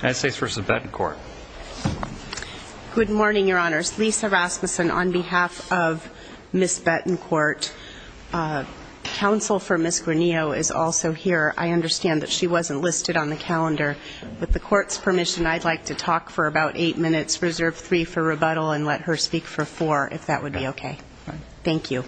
United States v. Betancourt. Good morning, your honors. Lisa Rasmussen on behalf of Ms. Betancourt. Counsel for Ms. Granillo is also here. I understand that she wasn't listed on the calendar. With the court's permission, I'd like to talk for about eight minutes. Reserve three for rebuttal and let her speak for four if that would be okay. Thank you.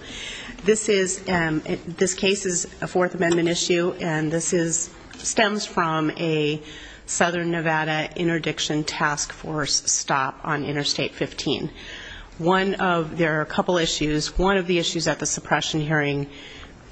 This case is a Fourth Amendment issue and this stems from a Southern Nevada Interdiction Task Force stop on Interstate 15. There are a couple issues. One of the issues at the suppression hearing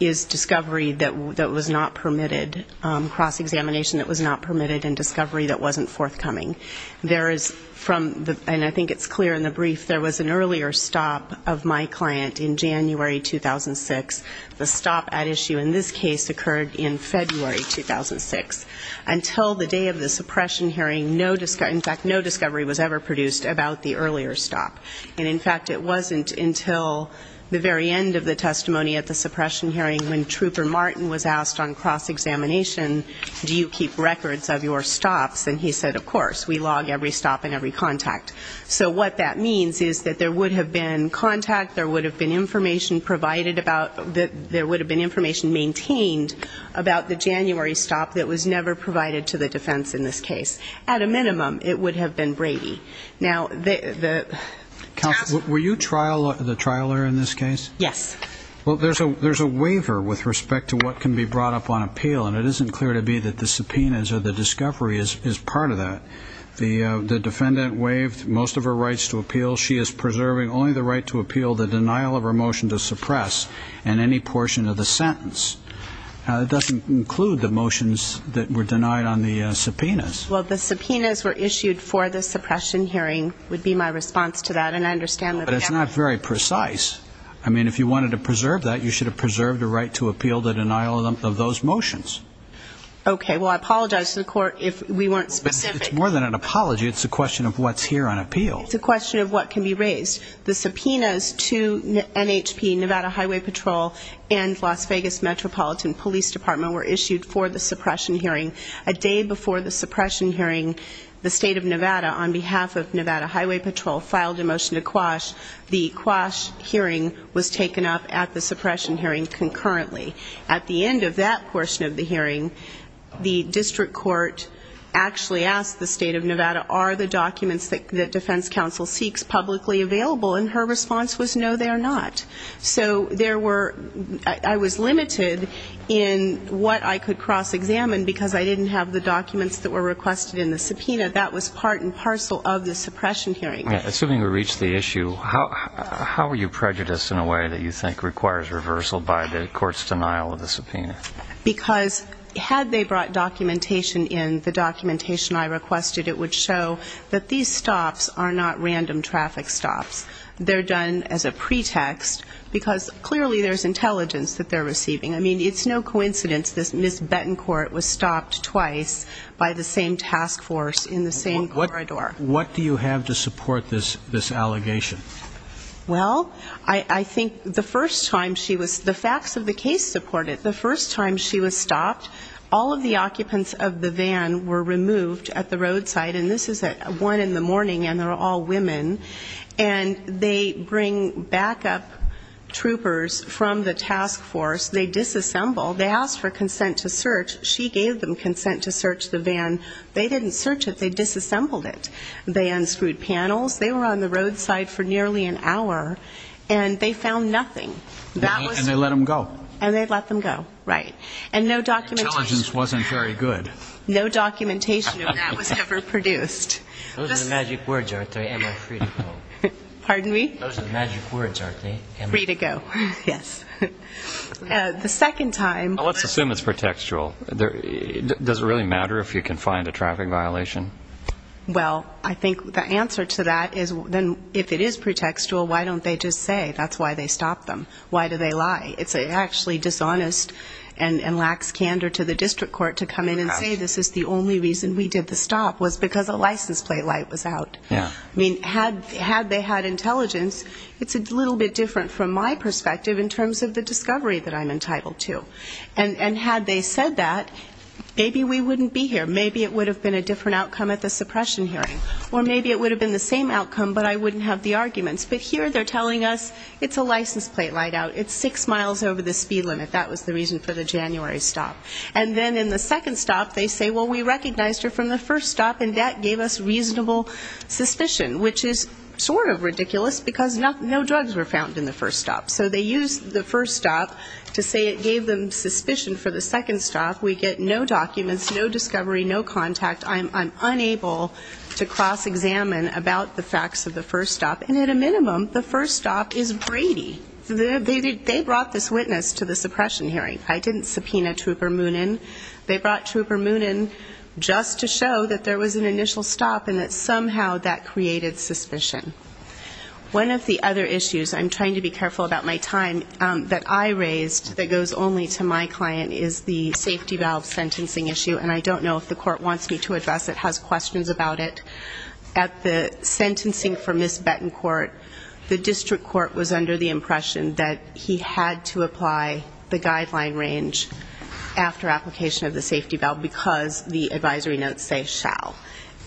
is discovery that was not permitted, cross-examination that was not permitted, and discovery that wasn't forthcoming. There is from the, and I think it's clear in the brief, there was an earlier stop of my client in January 2006. The stop at issue in this case occurred in February 2006. Until the day of the suppression hearing, in fact, no discovery was ever produced about the earlier stop. And in fact, it wasn't until the very end of the testimony at the suppression hearing when Trooper Martin was asked on cross-examination, do you keep records of your stops? And he said, of course. We log every stop and every contact. So what that means is that there would have been contact, there would have been information provided about, that there would have been information maintained about the January stop that was never provided to the defense in this case. At a minimum, it would have been Brady. Now the... Counsel, were you trial, the trial lawyer in this case? Yes. Well, there's a, there's a waiver with respect to what can be brought up on appeal and it isn't clear to be that the subpoenas or the discovery is part of that. The defendant waived most of her rights to appeal. She is preserving only the right to appeal the denial of her motion to suppress and any portion of the sentence. It doesn't include the motions that were denied on the subpoenas. Well, the subpoenas were issued for the suppression hearing would be my response to that and I understand... But it's not very precise. I mean, if you wanted to preserve that, you should have preserved the right to appeal the denial of those motions. Okay, well, I apologize to the court if we weren't specific. It's more than an apology. It's a question of what's here on appeal. It's a question of what can be brought up. The subpoenas to NHP, Nevada Highway Patrol, and Las Vegas Metropolitan Police Department were issued for the suppression hearing. A day before the suppression hearing, the State of Nevada, on behalf of Nevada Highway Patrol, filed a motion to quash. The quash hearing was taken up at the suppression hearing concurrently. At the end of that portion of the hearing, the district court actually asked the State of Nevada, are the documents that Defense Counsel seeks publicly available? And her response was no, they are not. So there were, I was limited in what I could cross-examine because I didn't have the documents that were requested in the subpoena. That was part and parcel of the suppression hearing. Assuming we reach the issue, how are you prejudiced in a way that you think requires reversal by the court's denial of the subpoena? Because had they brought documentation in, the documentation I requested, it would have been in the subpoena. So I think the case stops are not random traffic stops. They're done as a pretext because clearly there's intelligence that they're receiving. I mean, it's no coincidence that Ms. Betancourt was stopped twice by the same task force in the same corridor. What do you have to support this allegation? Well, I think the first time she was, the facts of the case support it, the first time she was stopped, all of the occupants of the van were removed at the roadside. And this is at one in the morning and they're all women. And they bring backup troopers from the task force. They disassemble. They asked for consent to search. She gave them consent to search the van. They didn't search it. They disassembled it. They unscrewed panels. They were on the roadside for nearly an hour and they found nothing. And they let them go. And they let them go. Right. And no documentation. The intelligence wasn't very good. No documentation of that was ever produced. Those are the magic words, aren't they? Am I free to go? Pardon me? Those are the magic words, aren't they? Free to go. Yes. The second time. Let's assume it's pretextual. Does it really matter if you can find a traffic violation? Well, I think the answer to that is then if it is pretextual, why don't they just say that's why they stopped them? Why do they lie? It's actually dishonest and lacks candor to the district court to come in and say this is the only reason we did the stop was because a license plate light was out. I mean, had they had intelligence, it's a little bit different from my perspective in terms of the discovery that I'm entitled to. And had they said that, maybe we wouldn't be here. Maybe it would have been a different outcome at the suppression hearing. Or maybe it would have been the same outcome, but I it's a license plate light out. It's six miles over the speed limit. That was the reason for the January stop. And then in the second stop, they say, well, we recognized her from the first stop and that gave us reasonable suspicion, which is sort of ridiculous because no drugs were found in the first stop. So they used the first stop to say it gave them suspicion for the second stop. We get no documents, no discovery, no contact. I'm unable to cross-examine about the stop is Brady. They brought this witness to the suppression hearing. I didn't subpoena Trooper Moonen. They brought Trooper Moonen just to show that there was an initial stop and that somehow that created suspicion. One of the other issues, I'm trying to be careful about my time, that I raised that goes only to my client is the safety valve sentencing issue. And I don't know if the court wants me to address it, has questions about it. At the sentencing for Ms. Moonen, the district court was under the impression that he had to apply the guideline range after application of the safety valve because the advisory notes say shall.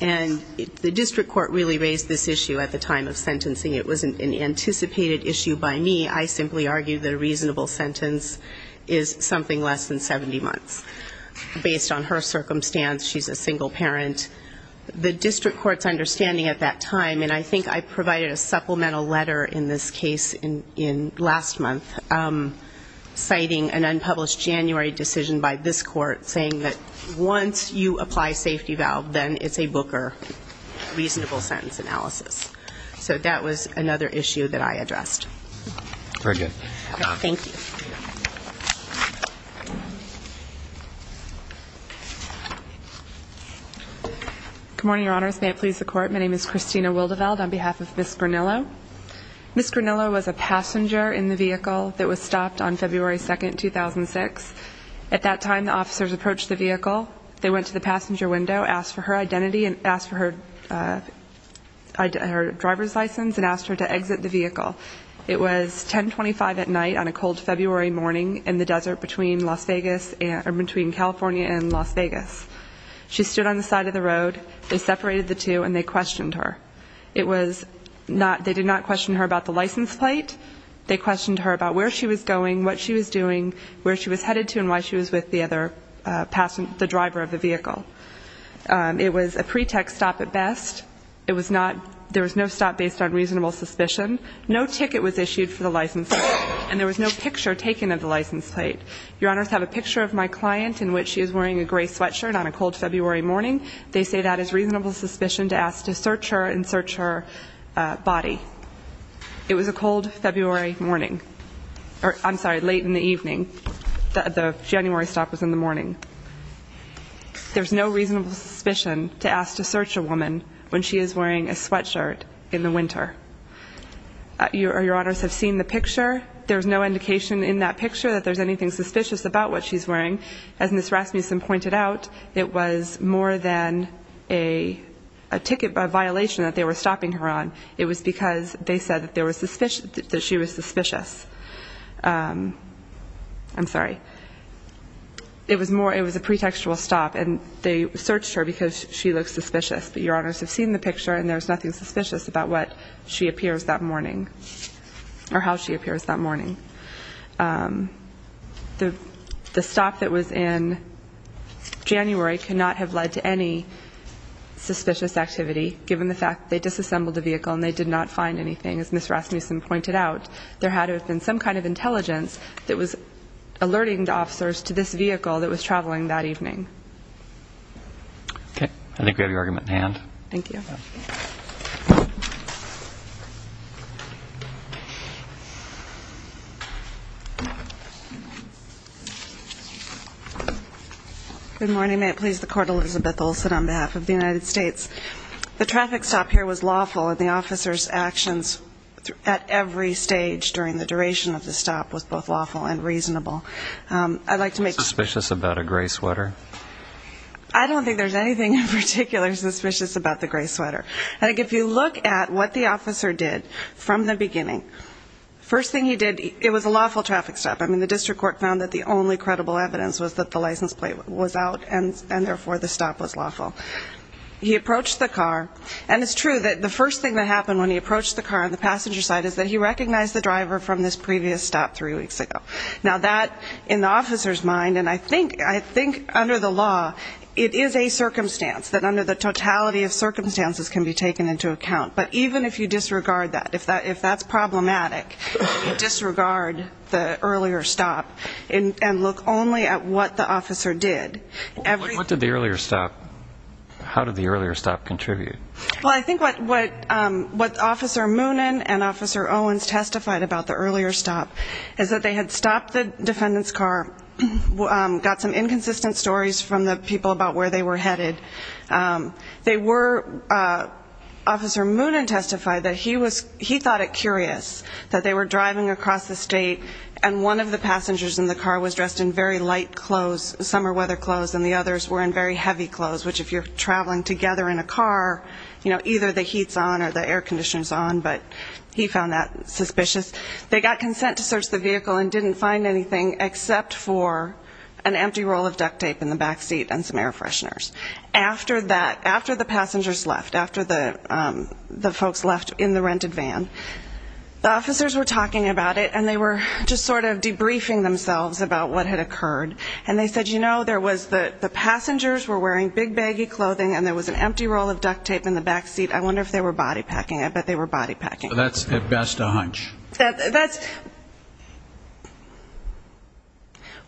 And the district court really raised this issue at the time of sentencing. It was an anticipated issue by me. I simply argued that a reasonable sentence is something less than 70 months. Based on her circumstance, she's a single parent. The district court's understanding at that time, and I think I mentioned this case last month, citing an unpublished January decision by this court saying that once you apply safety valve, then it's a Booker reasonable sentence analysis. So that was another issue that I addressed. Very good. Thank you. Good morning, Your Honors. May it please the Court. My name is Christina Wildeveld on behalf of Ms. Granillo. Ms. Granillo was a passenger in the vehicle that was stopped on February 2nd, 2006. At that time, the officers approached the vehicle. They went to the passenger window, asked for her identity and asked for her driver's license and asked her to exit the vehicle. It was 1025 at night on a cold February morning in the desert between California and Las Vegas. She stood on the side of the road. They separated the two and they did not question her about the license plate. They questioned her about where she was going, what she was doing, where she was headed to and why she was with the driver of the vehicle. It was a pretext stop at best. There was no stop based on reasonable suspicion. No ticket was issued for the license plate and there was no picture taken of the license plate. Your Honors, I have a picture of my client in which she is wearing a gray sweatshirt on a cold February morning. They say that is reasonable suspicion to ask to search her and search her body. It was a cold February morning, or I'm sorry, late in the evening. The January stop was in the morning. There's no reasonable suspicion to ask to search a woman when she is wearing a sweatshirt in the winter. Your Honors have seen the picture. There's no indication in that picture that there's anything suspicious about what she's wearing. It was a ticket violation that they were stopping her on. It was because they said that she was suspicious. I'm sorry. It was a pretextual stop and they searched her because she looks suspicious. But Your Honors have seen the picture and there's nothing suspicious about what she appears that morning or how she appears that morning. The stop that was in January could not have led to any suspicious activity given the fact that they disassembled the vehicle and they did not find anything. As Ms. Rasmussen pointed out, there had to have been some kind of intelligence that was alerting the officers to this vehicle that was traveling that evening. Okay. I think we have your argument in hand. Thank you. Good morning. May it please the Court, Elizabeth Olsen on behalf of the United States. The traffic stop here was lawful and the officer's actions at every stage during the duration of the stop was both lawful and reasonable. I'd like to make... Suspicious about a gray sweater? I don't think there's anything in the law about the gray sweater. And if you look at what the officer did from the beginning, first thing he did, it was a lawful traffic stop. I mean, the district court found that the only credible evidence was that the license plate was out and therefore the stop was lawful. He approached the car and it's true that the first thing that happened when he approached the car on the passenger side is that he recognized the driver from this previous stop three weeks ago. Now that, in the officer's mind, and I think under the law, it is a can be taken into account. But even if you disregard that, if that's problematic, disregard the earlier stop and look only at what the officer did. What did the earlier stop... How did the earlier stop contribute? Well, I think what Officer Moonen and Officer Owens testified about the earlier stop is that they had stopped the defendant's car, got some inconsistent stories from the people about where they were headed. They were... Officer Moonen testified that he thought it curious that they were driving across the state and one of the passengers in the car was dressed in very light clothes, summer weather clothes, and the others were in very heavy clothes, which if you're traveling together in a car, you know, either the heat's on or the air conditioner's on, but he found that suspicious. They got consent to search the vehicle and didn't find anything except for an empty roll of duct tape in the back seat and some air fresheners. After that, after the passengers left, after the folks left in the rented van, the officers were talking about it and they were just sort of debriefing themselves about what had occurred. And they said, you know, there was the passengers were wearing big baggy clothing and there was an empty roll of duct tape in the back seat. I wonder if they were body packing. I bet they were body packing. So that's at best a hunch. That's...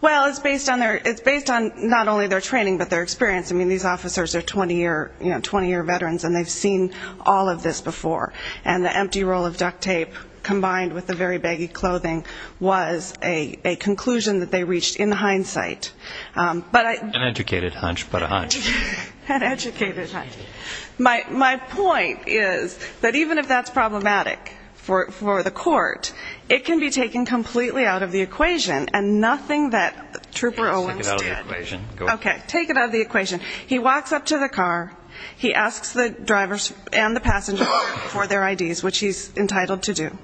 Well, it's based on their, it's based on not only their training, but their experience. I mean, these officers are 20-year, you know, 20-year veterans and they've seen all of this before. And the empty roll of duct tape combined with the very baggy clothing was a conclusion that they reached in hindsight. But... An educated hunch, but a hunch. An educated hunch. My point is that even if that's problematic for the court, it can be taken completely out of the equation and nothing that Trooper Owens did... Okay, take it out of the equation. He walks up to the car. He asks the drivers and the passengers for their IDs, which he's entitled to do.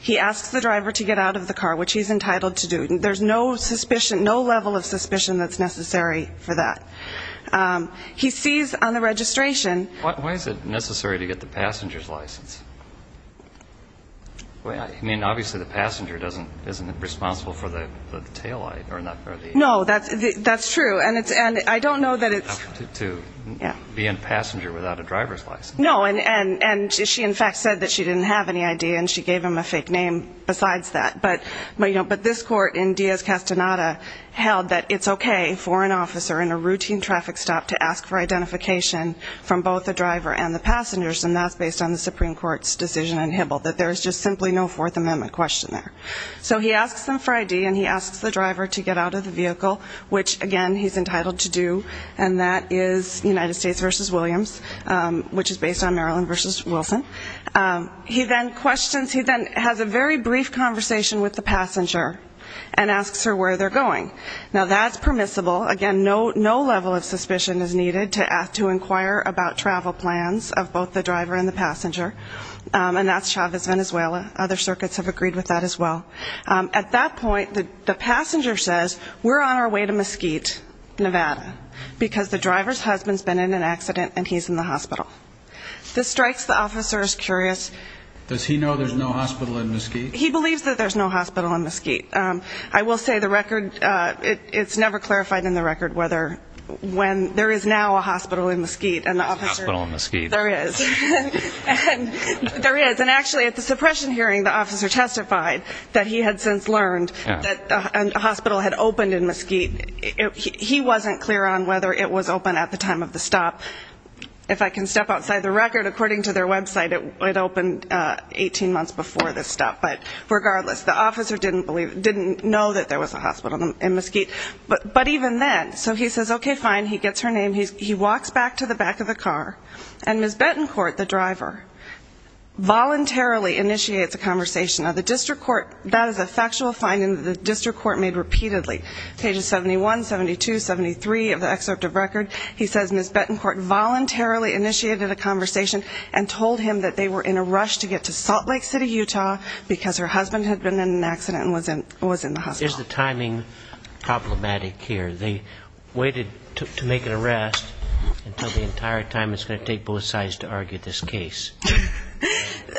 He asks the driver to get out of the car, which he's entitled to do. There's no suspicion, no level of suspicion that's necessary for that. He sees on the registration... Why is it necessary to get the passenger's license? I mean, obviously the passenger doesn't, isn't responsible for the taillight or the... No, that's true. And I don't know that it's... To be a passenger without a driver's license. No, and she in fact said that she didn't have any ID and she gave him a fake name besides that. But, you know, but this testonada held that it's okay for an officer in a routine traffic stop to ask for identification from both the driver and the passengers, and that's based on the Supreme Court's decision in Hibble, that there's just simply no Fourth Amendment question there. So he asks them for ID and he asks the driver to get out of the vehicle, which again he's entitled to do, and that is United States versus Williams, which is based on Maryland versus Wilson. He then questions... He then has a very brief conversation with the passenger and asks her where they're going. Now that's permissible. Again, no level of suspicion is needed to ask to inquire about travel plans of both the driver and the passenger, and that's Chavez, Venezuela. Other circuits have agreed with that as well. At that point, the passenger says, we're on our way to Mesquite, Nevada, because the driver's husband's been in an accident and he's in the hospital. This strikes the officer as curious. Does he know there's no hospital in Mesquite? He believes that there's no hospital in Mesquite. I will say the record, it's never clarified in the record whether, when, there is now a hospital in Mesquite. There is. There is. And actually at the suppression hearing, the officer testified that he had since learned that a hospital had opened in Mesquite. He wasn't clear on whether it was open at the time of the stop. If I can step outside the record, according to their website, it opened 18 months before this stop. But regardless, the officer didn't believe, didn't know that there was a hospital in Mesquite. But even then, so he says, okay, fine. He gets her name. He walks back to the back of the car, and Ms. Betancourt, the driver, voluntarily initiates a conversation. Now, the district court, that is a factual finding that the district court made repeatedly. Pages 71, 72, 73 of the excerpt of record, he says Ms. Betancourt voluntarily initiated a conversation and told him that they were in a rush to get to Salt Lake City, Utah, because her husband had been in an accident and was in the hospital. Is the timing problematic here? They waited to make an arrest until the entire time it's going to take both sides to argue this case.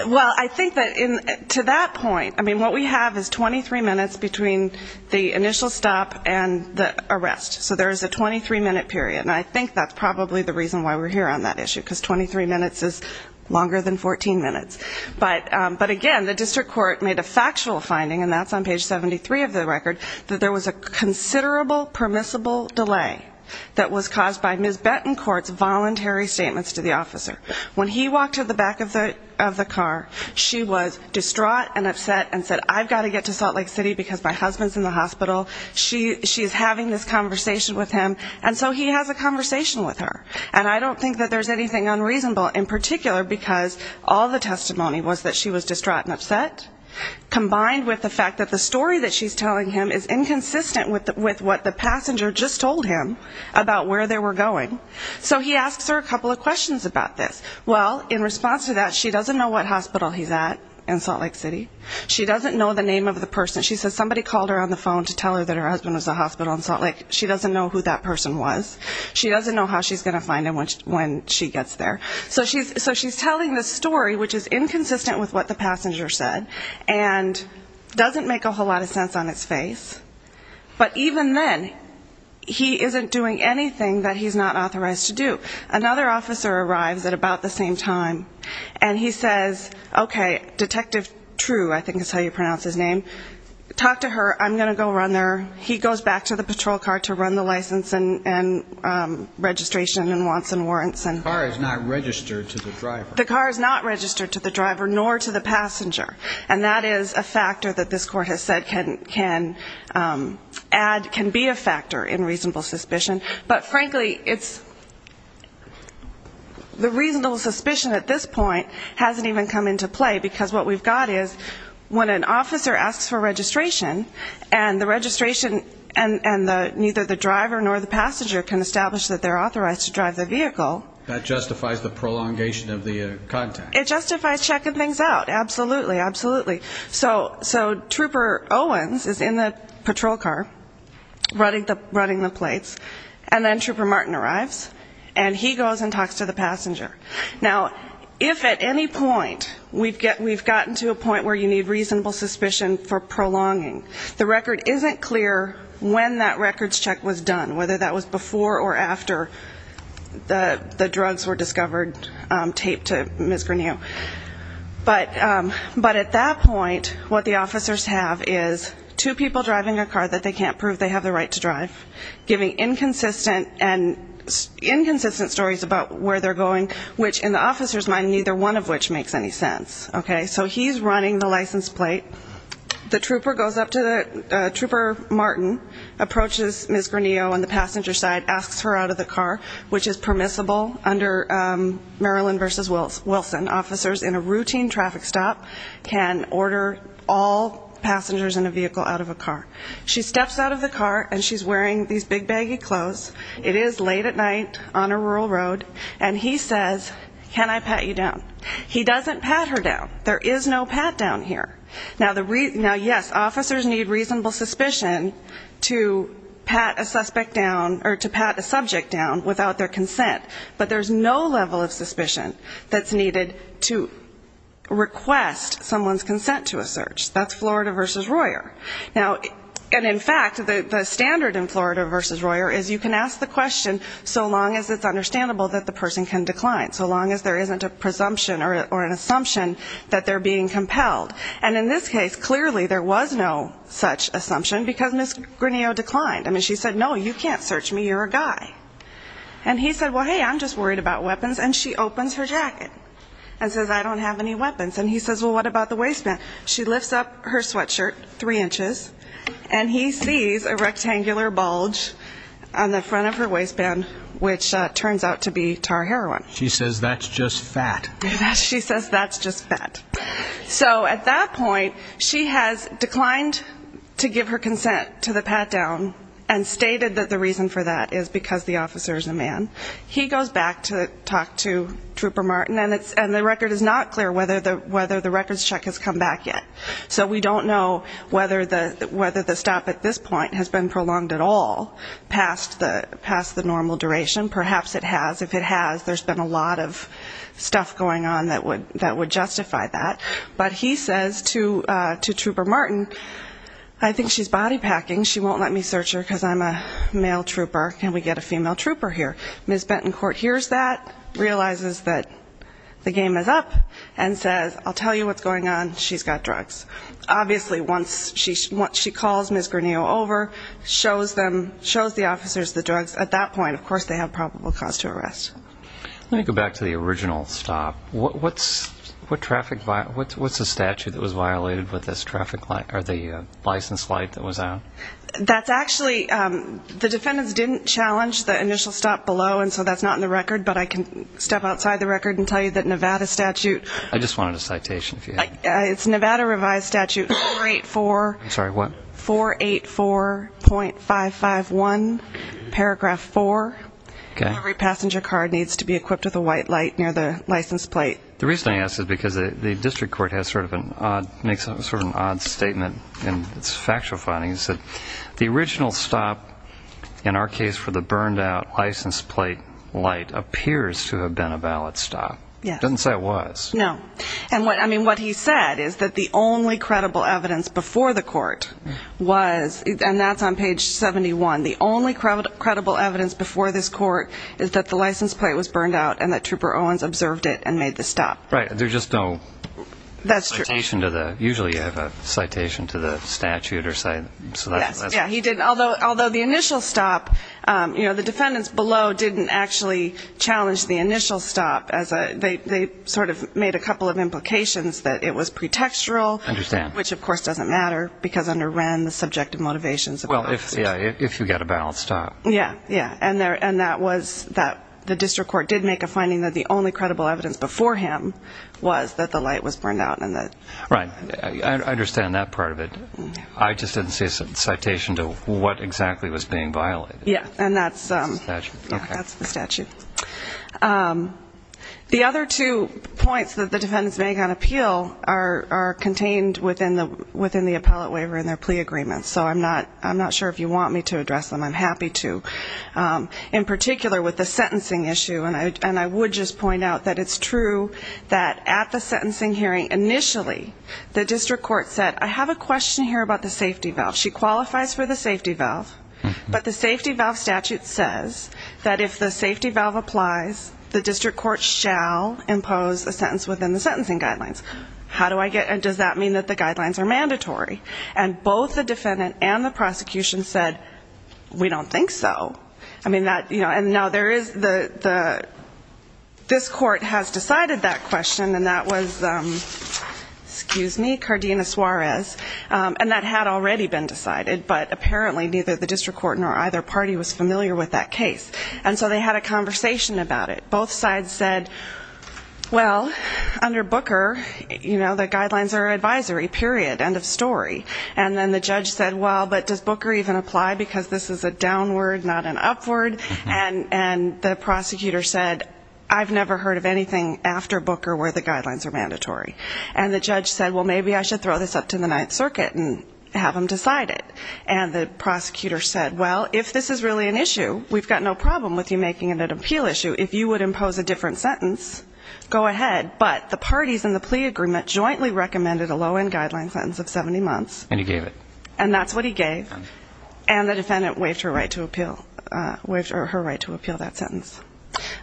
Well, I think that to that point, I mean, what we have is 23 minutes between the initial stop and the arrest. So there is a 23-minute period, and I think that's probably the reason why we're here on that issue, because 23 minutes is longer than 14 minutes. But again, the district court made a factual finding, and this is a record, that there was a considerable permissible delay that was caused by Ms. Betancourt's voluntary statements to the officer. When he walked to the back of the car, she was distraught and upset and said, I've got to get to Salt Lake City because my husband's in the hospital, she's having this conversation with him, and so he has a conversation with her. And I don't think that there's anything unreasonable, in particular because all the testimony was that she was distraught and upset, combined with the fact that the story that she's telling him is inconsistent with what the passenger just told him about where they were going. So he asks her a couple of questions about this. Well, in response to that, she doesn't know what hospital he's at in Salt Lake City. She doesn't know the name of the person. She says somebody called her on the phone to tell her that her husband was in the hospital in Salt Lake. She doesn't know who that person was. She doesn't know how she's going to find him when she gets there. So she's telling this story, which is inconsistent with what the passenger said, and doesn't make a whole lot of sense on its face. But even then, he isn't doing anything that he's not authorized to do. Another officer arrives at about the same time, and he says, okay, Detective True, I think is how you pronounce his name, talk to her. I'm going to go run there. He goes back to the patrol car to run the license and registration and wants and warrants. The car is not registered to the driver. nor to the passenger. And that is a factor that this court has said can be a factor in reasonable suspicion. But frankly, the reasonable suspicion at this point hasn't even come into play, because what we've got is, when an officer asks for registration, and the registration and neither the driver nor the passenger can establish that they're authorized to drive the vehicle. That justifies the prolongation of the contact. It justifies checking things out. Absolutely. Absolutely. So Trooper Owens is in the patrol car, running the plates, and then Trooper Martin arrives, and he goes and talks to the passenger. Now, if at any point we've gotten to a point where you need reasonable suspicion for prolonging, the record isn't clear when that records check was done, whether that was before or after the drugs were discovered, taped to Ms. Granillo. But at that point, what the officers have is two people driving a car that they can't prove they have the right to drive, giving inconsistent stories about where they're going, which in the officer's mind, neither one of which makes any sense, okay? So he's running the license plate. The Trooper goes up to the Trooper Martin, approaches Ms. Granillo on the passenger side, asks her out of the car, which is permissible under Maryland v. Wilson. Officers in a routine traffic stop can order all passengers in a vehicle out of a car. She steps out of the car, and she's wearing these big baggy clothes. It is late at night on a rural road, and he says, can I pat you down? He doesn't pat her down. There is no pat down here. Now, yes, officers need reasonable suspicion to pat a suspect down without their consent, but there's no level of suspicion that's needed to request someone's consent to a search. That's Florida v. Royer. Now, and in fact, the standard in Florida v. Royer is you can ask the question so long as it's understandable that the person can decline, so long as there isn't a presumption or an assumption that they're being compelled. And in this case, clearly there was no such assumption, because Ms. Granillo declined. I mean, she said, no, you can't search me. You're a guy. And he said, well, hey, I'm just worried about weapons. And she opens her jacket and says, I don't have any weapons. And he says, well, what about the waistband? She lifts up her sweatshirt three inches, and he sees a rectangular bulge on the front of her waistband, which turns out to be tar heroin. She says that's just fat. She says that's just fat. So at that point, she has declined to give her down, and stated that the reason for that is because the officer is a man. He goes back to talk to Trooper Martin, and the record is not clear whether the records check has come back yet. So we don't know whether the stop at this point has been prolonged at all past the normal duration. Perhaps it has. If it has, there's been a lot of stuff going on that would justify that. But he says to Trooper Martin, I think she's body packing. She won't let me search her because I'm a male trooper. Can we get a female trooper here? Ms. Bentoncourt hears that, realizes that the game is up, and says, I'll tell you what's going on. She's got drugs. Obviously, once she calls Ms. Granillo over, shows them, shows the officers the drugs, at that point, of course, they have probable cause to arrest. Let me go back to the original stop. What's the statute that was violated with this traffic light, or the license light that was on? That's actually, the defendants didn't challenge the initial stop below, and so that's not in the record. But I can step outside the record and tell you that Nevada statute. I just wanted a citation, if you have it. It's Nevada revised statute 484. I'm sorry, what? Every passenger car needs to be equipped with a white light near the license plate. The reason I ask is because the district court has sort of an odd, makes sort of an odd statement in its factual findings that the original stop, in our case for the burned out license plate light, appears to have been a valid stop. It doesn't say it was. No. And what, I mean, what he said is that the only credible evidence before the court was, and that's on page 71, the only credible evidence before this court is that the license plate was burned out and that Trooper Owens observed it and made the stop. Right. There's just no citation to the, usually you have a citation to the statute or something. Yes. Yeah, he didn't, although the initial stop, you know, the defendants below didn't actually challenge the initial stop as a, they sort of made a couple of implications that it was pre-textual, which of course doesn't matter, because under Wren the subjective motivation is a valid stop. Well, yeah, if you got a valid stop. Yeah. Yeah. And there, and that was that the district court did make a finding that the only credible evidence before him was that the light was burned out and that. Right. I understand that part of it. I just didn't see a citation to what exactly was being violated. Yeah. And that's, that's the statute. The other two points that the defendants make on appeal are contained within the, within the appellate waiver and their plea agreements. So I'm not, I'm not, I don't want me to address them. I'm happy to in particular with the sentencing issue. And I, and I would just point out that it's true that at the sentencing hearing, initially the district court said, I have a question here about the safety valve. She qualifies for the safety valve, but the safety valve statute says that if the safety valve applies, the district court shall impose a sentence within the sentencing guidelines. How do I get, does that mean that the guidelines are mandatory? And both the defendant and the prosecution said, we don't think so. I mean that, you know, and now there is the, the, this court has decided that question and that was excuse me, Cardina Suarez. And that had already been decided, but apparently neither the district court nor either party was familiar with that case. And so they had a conversation about it. Both sides said, well, under Booker, you know, the guidelines are advisory period, end of story. And then the judge said, well, but does Booker even apply? Because this is a downward, not an upward. And, and the prosecutor said, I've never heard of anything after Booker where the guidelines are mandatory. And the judge said, well, maybe I should throw this up to the Ninth Circuit and have them decide it. And the prosecutor said, well, if this is really an issue, we've got no problem with you making it an appeal issue. If you would impose a different sentence, go ahead. But the parties in the plea agreement jointly recommended a low-end guideline sentence of 70 months. And he gave it. And that's what he gave. And the defendant waived her right to appeal, waived her right to appeal that sentence.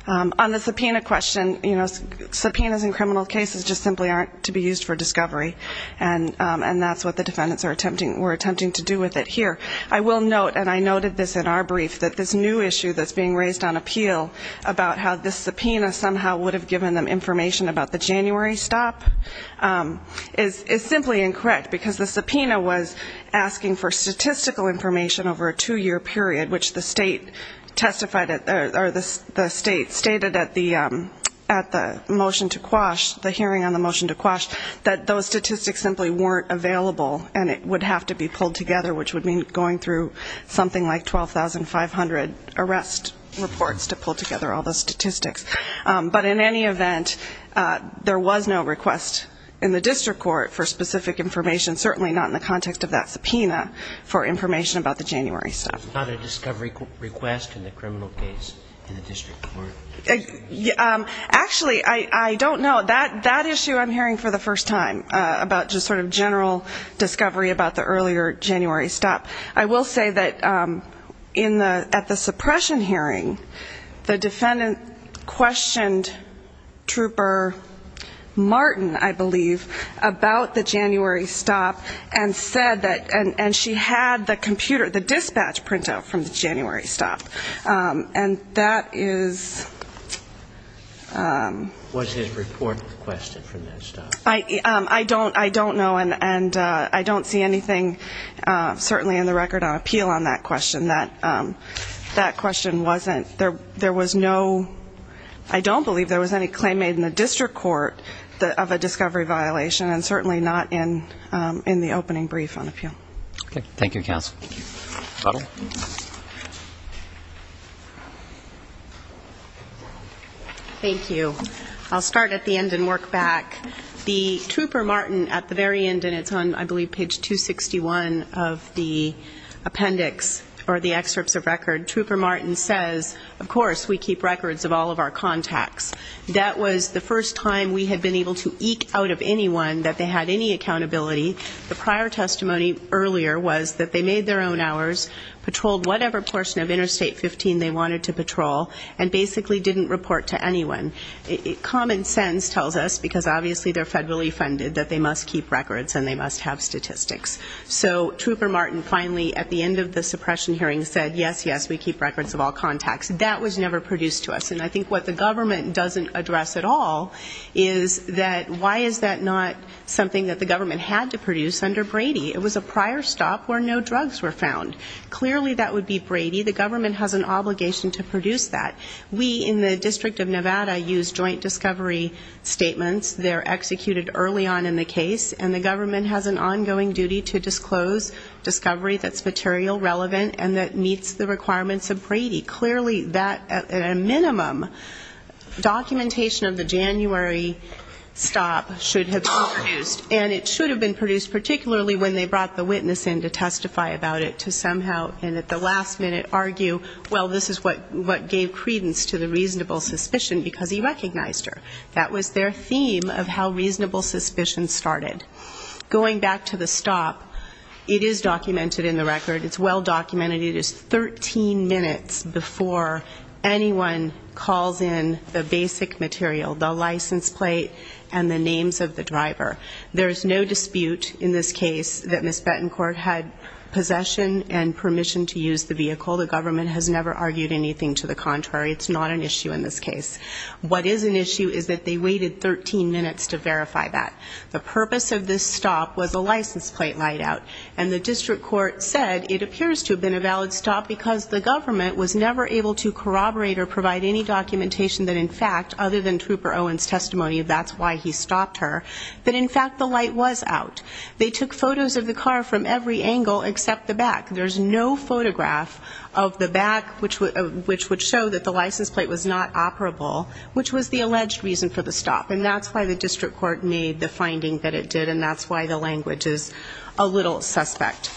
On the subpoena question, you know, subpoenas in criminal cases just simply aren't to be used for discovery. And, and that's what the defendants are attempting, were attempting to do with it here. I will note, and I noted this in our brief, that this new issue that's being raised on appeal about how this subpoena somehow would have given them information about the January stop is, is simply incorrect because the subpoena was asking for statistical information over a two-year period, which the state testified at, or the state stated at the, at the motion to quash, the hearing on the motion to quash, that those statistics simply weren't available and it would have to be pulled together, which would mean going through something like 12,500 arrest reports to pull together all those statistics. But in any event, there was no request in the district court for specific information, certainly not in the context of that subpoena, for information about the January stop. There's not a discovery request in the criminal case in the district court? Yeah. Actually, I, I don't know. That, that issue I'm hearing for the first time about just sort of general discovery about the earlier January stop. I will say that in the, at the suppression hearing, the defendant questioned Trooper Martin, I believe, about the January stop and said that, and, and she had the computer, the dispatch printout from the January stop. And that is, um. What's his report request from that stop? I, um, I don't, I don't know. And, and, uh, I don't see anything, uh, certainly in the record on appeal on that question. That, um, that question wasn't, there, there was no, I don't believe there was any claim made in the district court of a discovery violation and certainly not in, um, in the opening brief on appeal. Okay. Thank you, counsel. Thank you. I'll start at the end and work back. The Trooper Martin at the very end, and it's on, I believe, page 261 of the appendix or the excerpts of record. Trooper Martin says, of course, we keep records of all of our contacts. That was the first time we had been able to eke out of anyone that they had any accountability. The prior testimony earlier was that they made their own wanted to patrol and basically didn't report to anyone. It common sense tells us, because obviously they're federally funded, that they must keep records and they must have statistics. So Trooper Martin finally at the end of the suppression hearing said, yes, yes, we keep records of all contacts. That was never produced to us. And I think what the government doesn't address at all is that, why is that not something that the government had to produce under Brady? It was a prior stop where no drugs were found. Clearly that would be Brady. The government has an obligation to produce that. We in the District of Nevada use joint discovery statements. They're executed early on in the case. And the government has an ongoing duty to disclose discovery that's material relevant and that meets the requirements of Brady. Clearly that, at a minimum, documentation of the January stop should have been produced. And it should have been produced, particularly when they brought the witness in to testify about it, to somehow, and at the last minute argue, well, this is what gave credence to the reasonable suspicion because he recognized her. That was their theme of how reasonable suspicion started. Going back to the stop, it is documented in the record. It's well documented. It is 13 minutes before anyone calls in the basic material, the license plate and the names of the driver. There is no dispute in this case that Ms. has never argued anything to the contrary. It's not an issue in this case. What is an issue is that they waited 13 minutes to verify that. The purpose of this stop was a license plate light out. And the district court said it appears to have been a valid stop because the government was never able to corroborate or provide any documentation that, in fact, other than Trooper Owen's testimony of that's why he stopped her, that, in fact, the light was out. They took photos of the car from every angle except the back. There's no photograph of the back, which would show that the license plate was not operable, which was the alleged reason for the stop. And that's why the district court made the finding that it did. And that's why the language is a little suspect.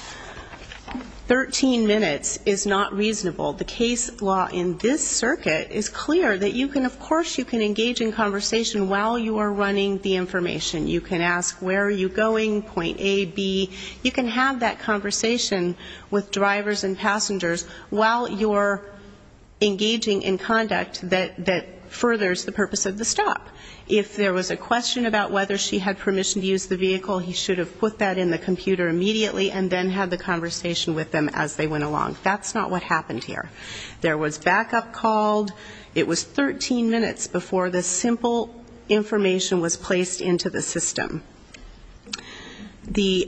13 minutes is not reasonable. The case law in this circuit is clear that you can, of course, you can engage in conversation while you are running the information. You can ask where are you going, point A, B. You can have that conversation with drivers and passengers while you're engaging in conduct that furthers the purpose of the stop. If there was a question about whether she had permission to use the vehicle, he should have put that in the computer immediately and then had the conversation with them as they went along. That's not what happened here. There was backup called. It was 13 minutes before the simple information was placed into the system. The,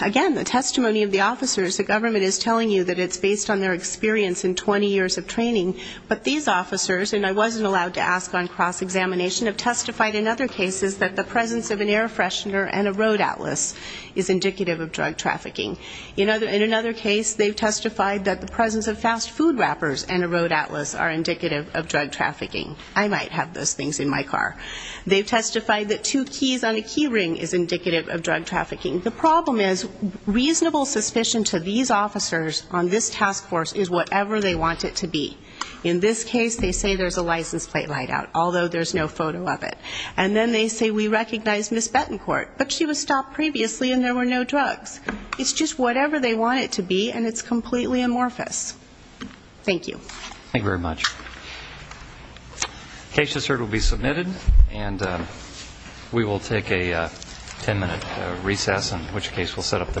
again, the testimony of the officers, the government is telling you that it's based on their experience in 20 years of training. But these officers, and I wasn't allowed to ask on cross-examination, have testified in other cases that the presence of an air freshener and a road atlas is indicative of drug trafficking. In another case, they've testified that the presence of fast food wrappers and a road atlas are indicative of drug trafficking. I might have those things in my car. They've testified that two keys on a key ring is indicative of drug trafficking. The problem is reasonable suspicion to these officers on this task force is whatever they want it to be. In this case, they say there's a license plate light out, although there's no photo of it. And then they say we recognize Ms. Betancourt, but she was stopped previously and there were no drugs. It's just whatever they want it to be and it's completely amorphous. Thank you. Thank you very much. Case just heard will be submitted and we will take a 10 minute recess, in which case we'll set up the telephone.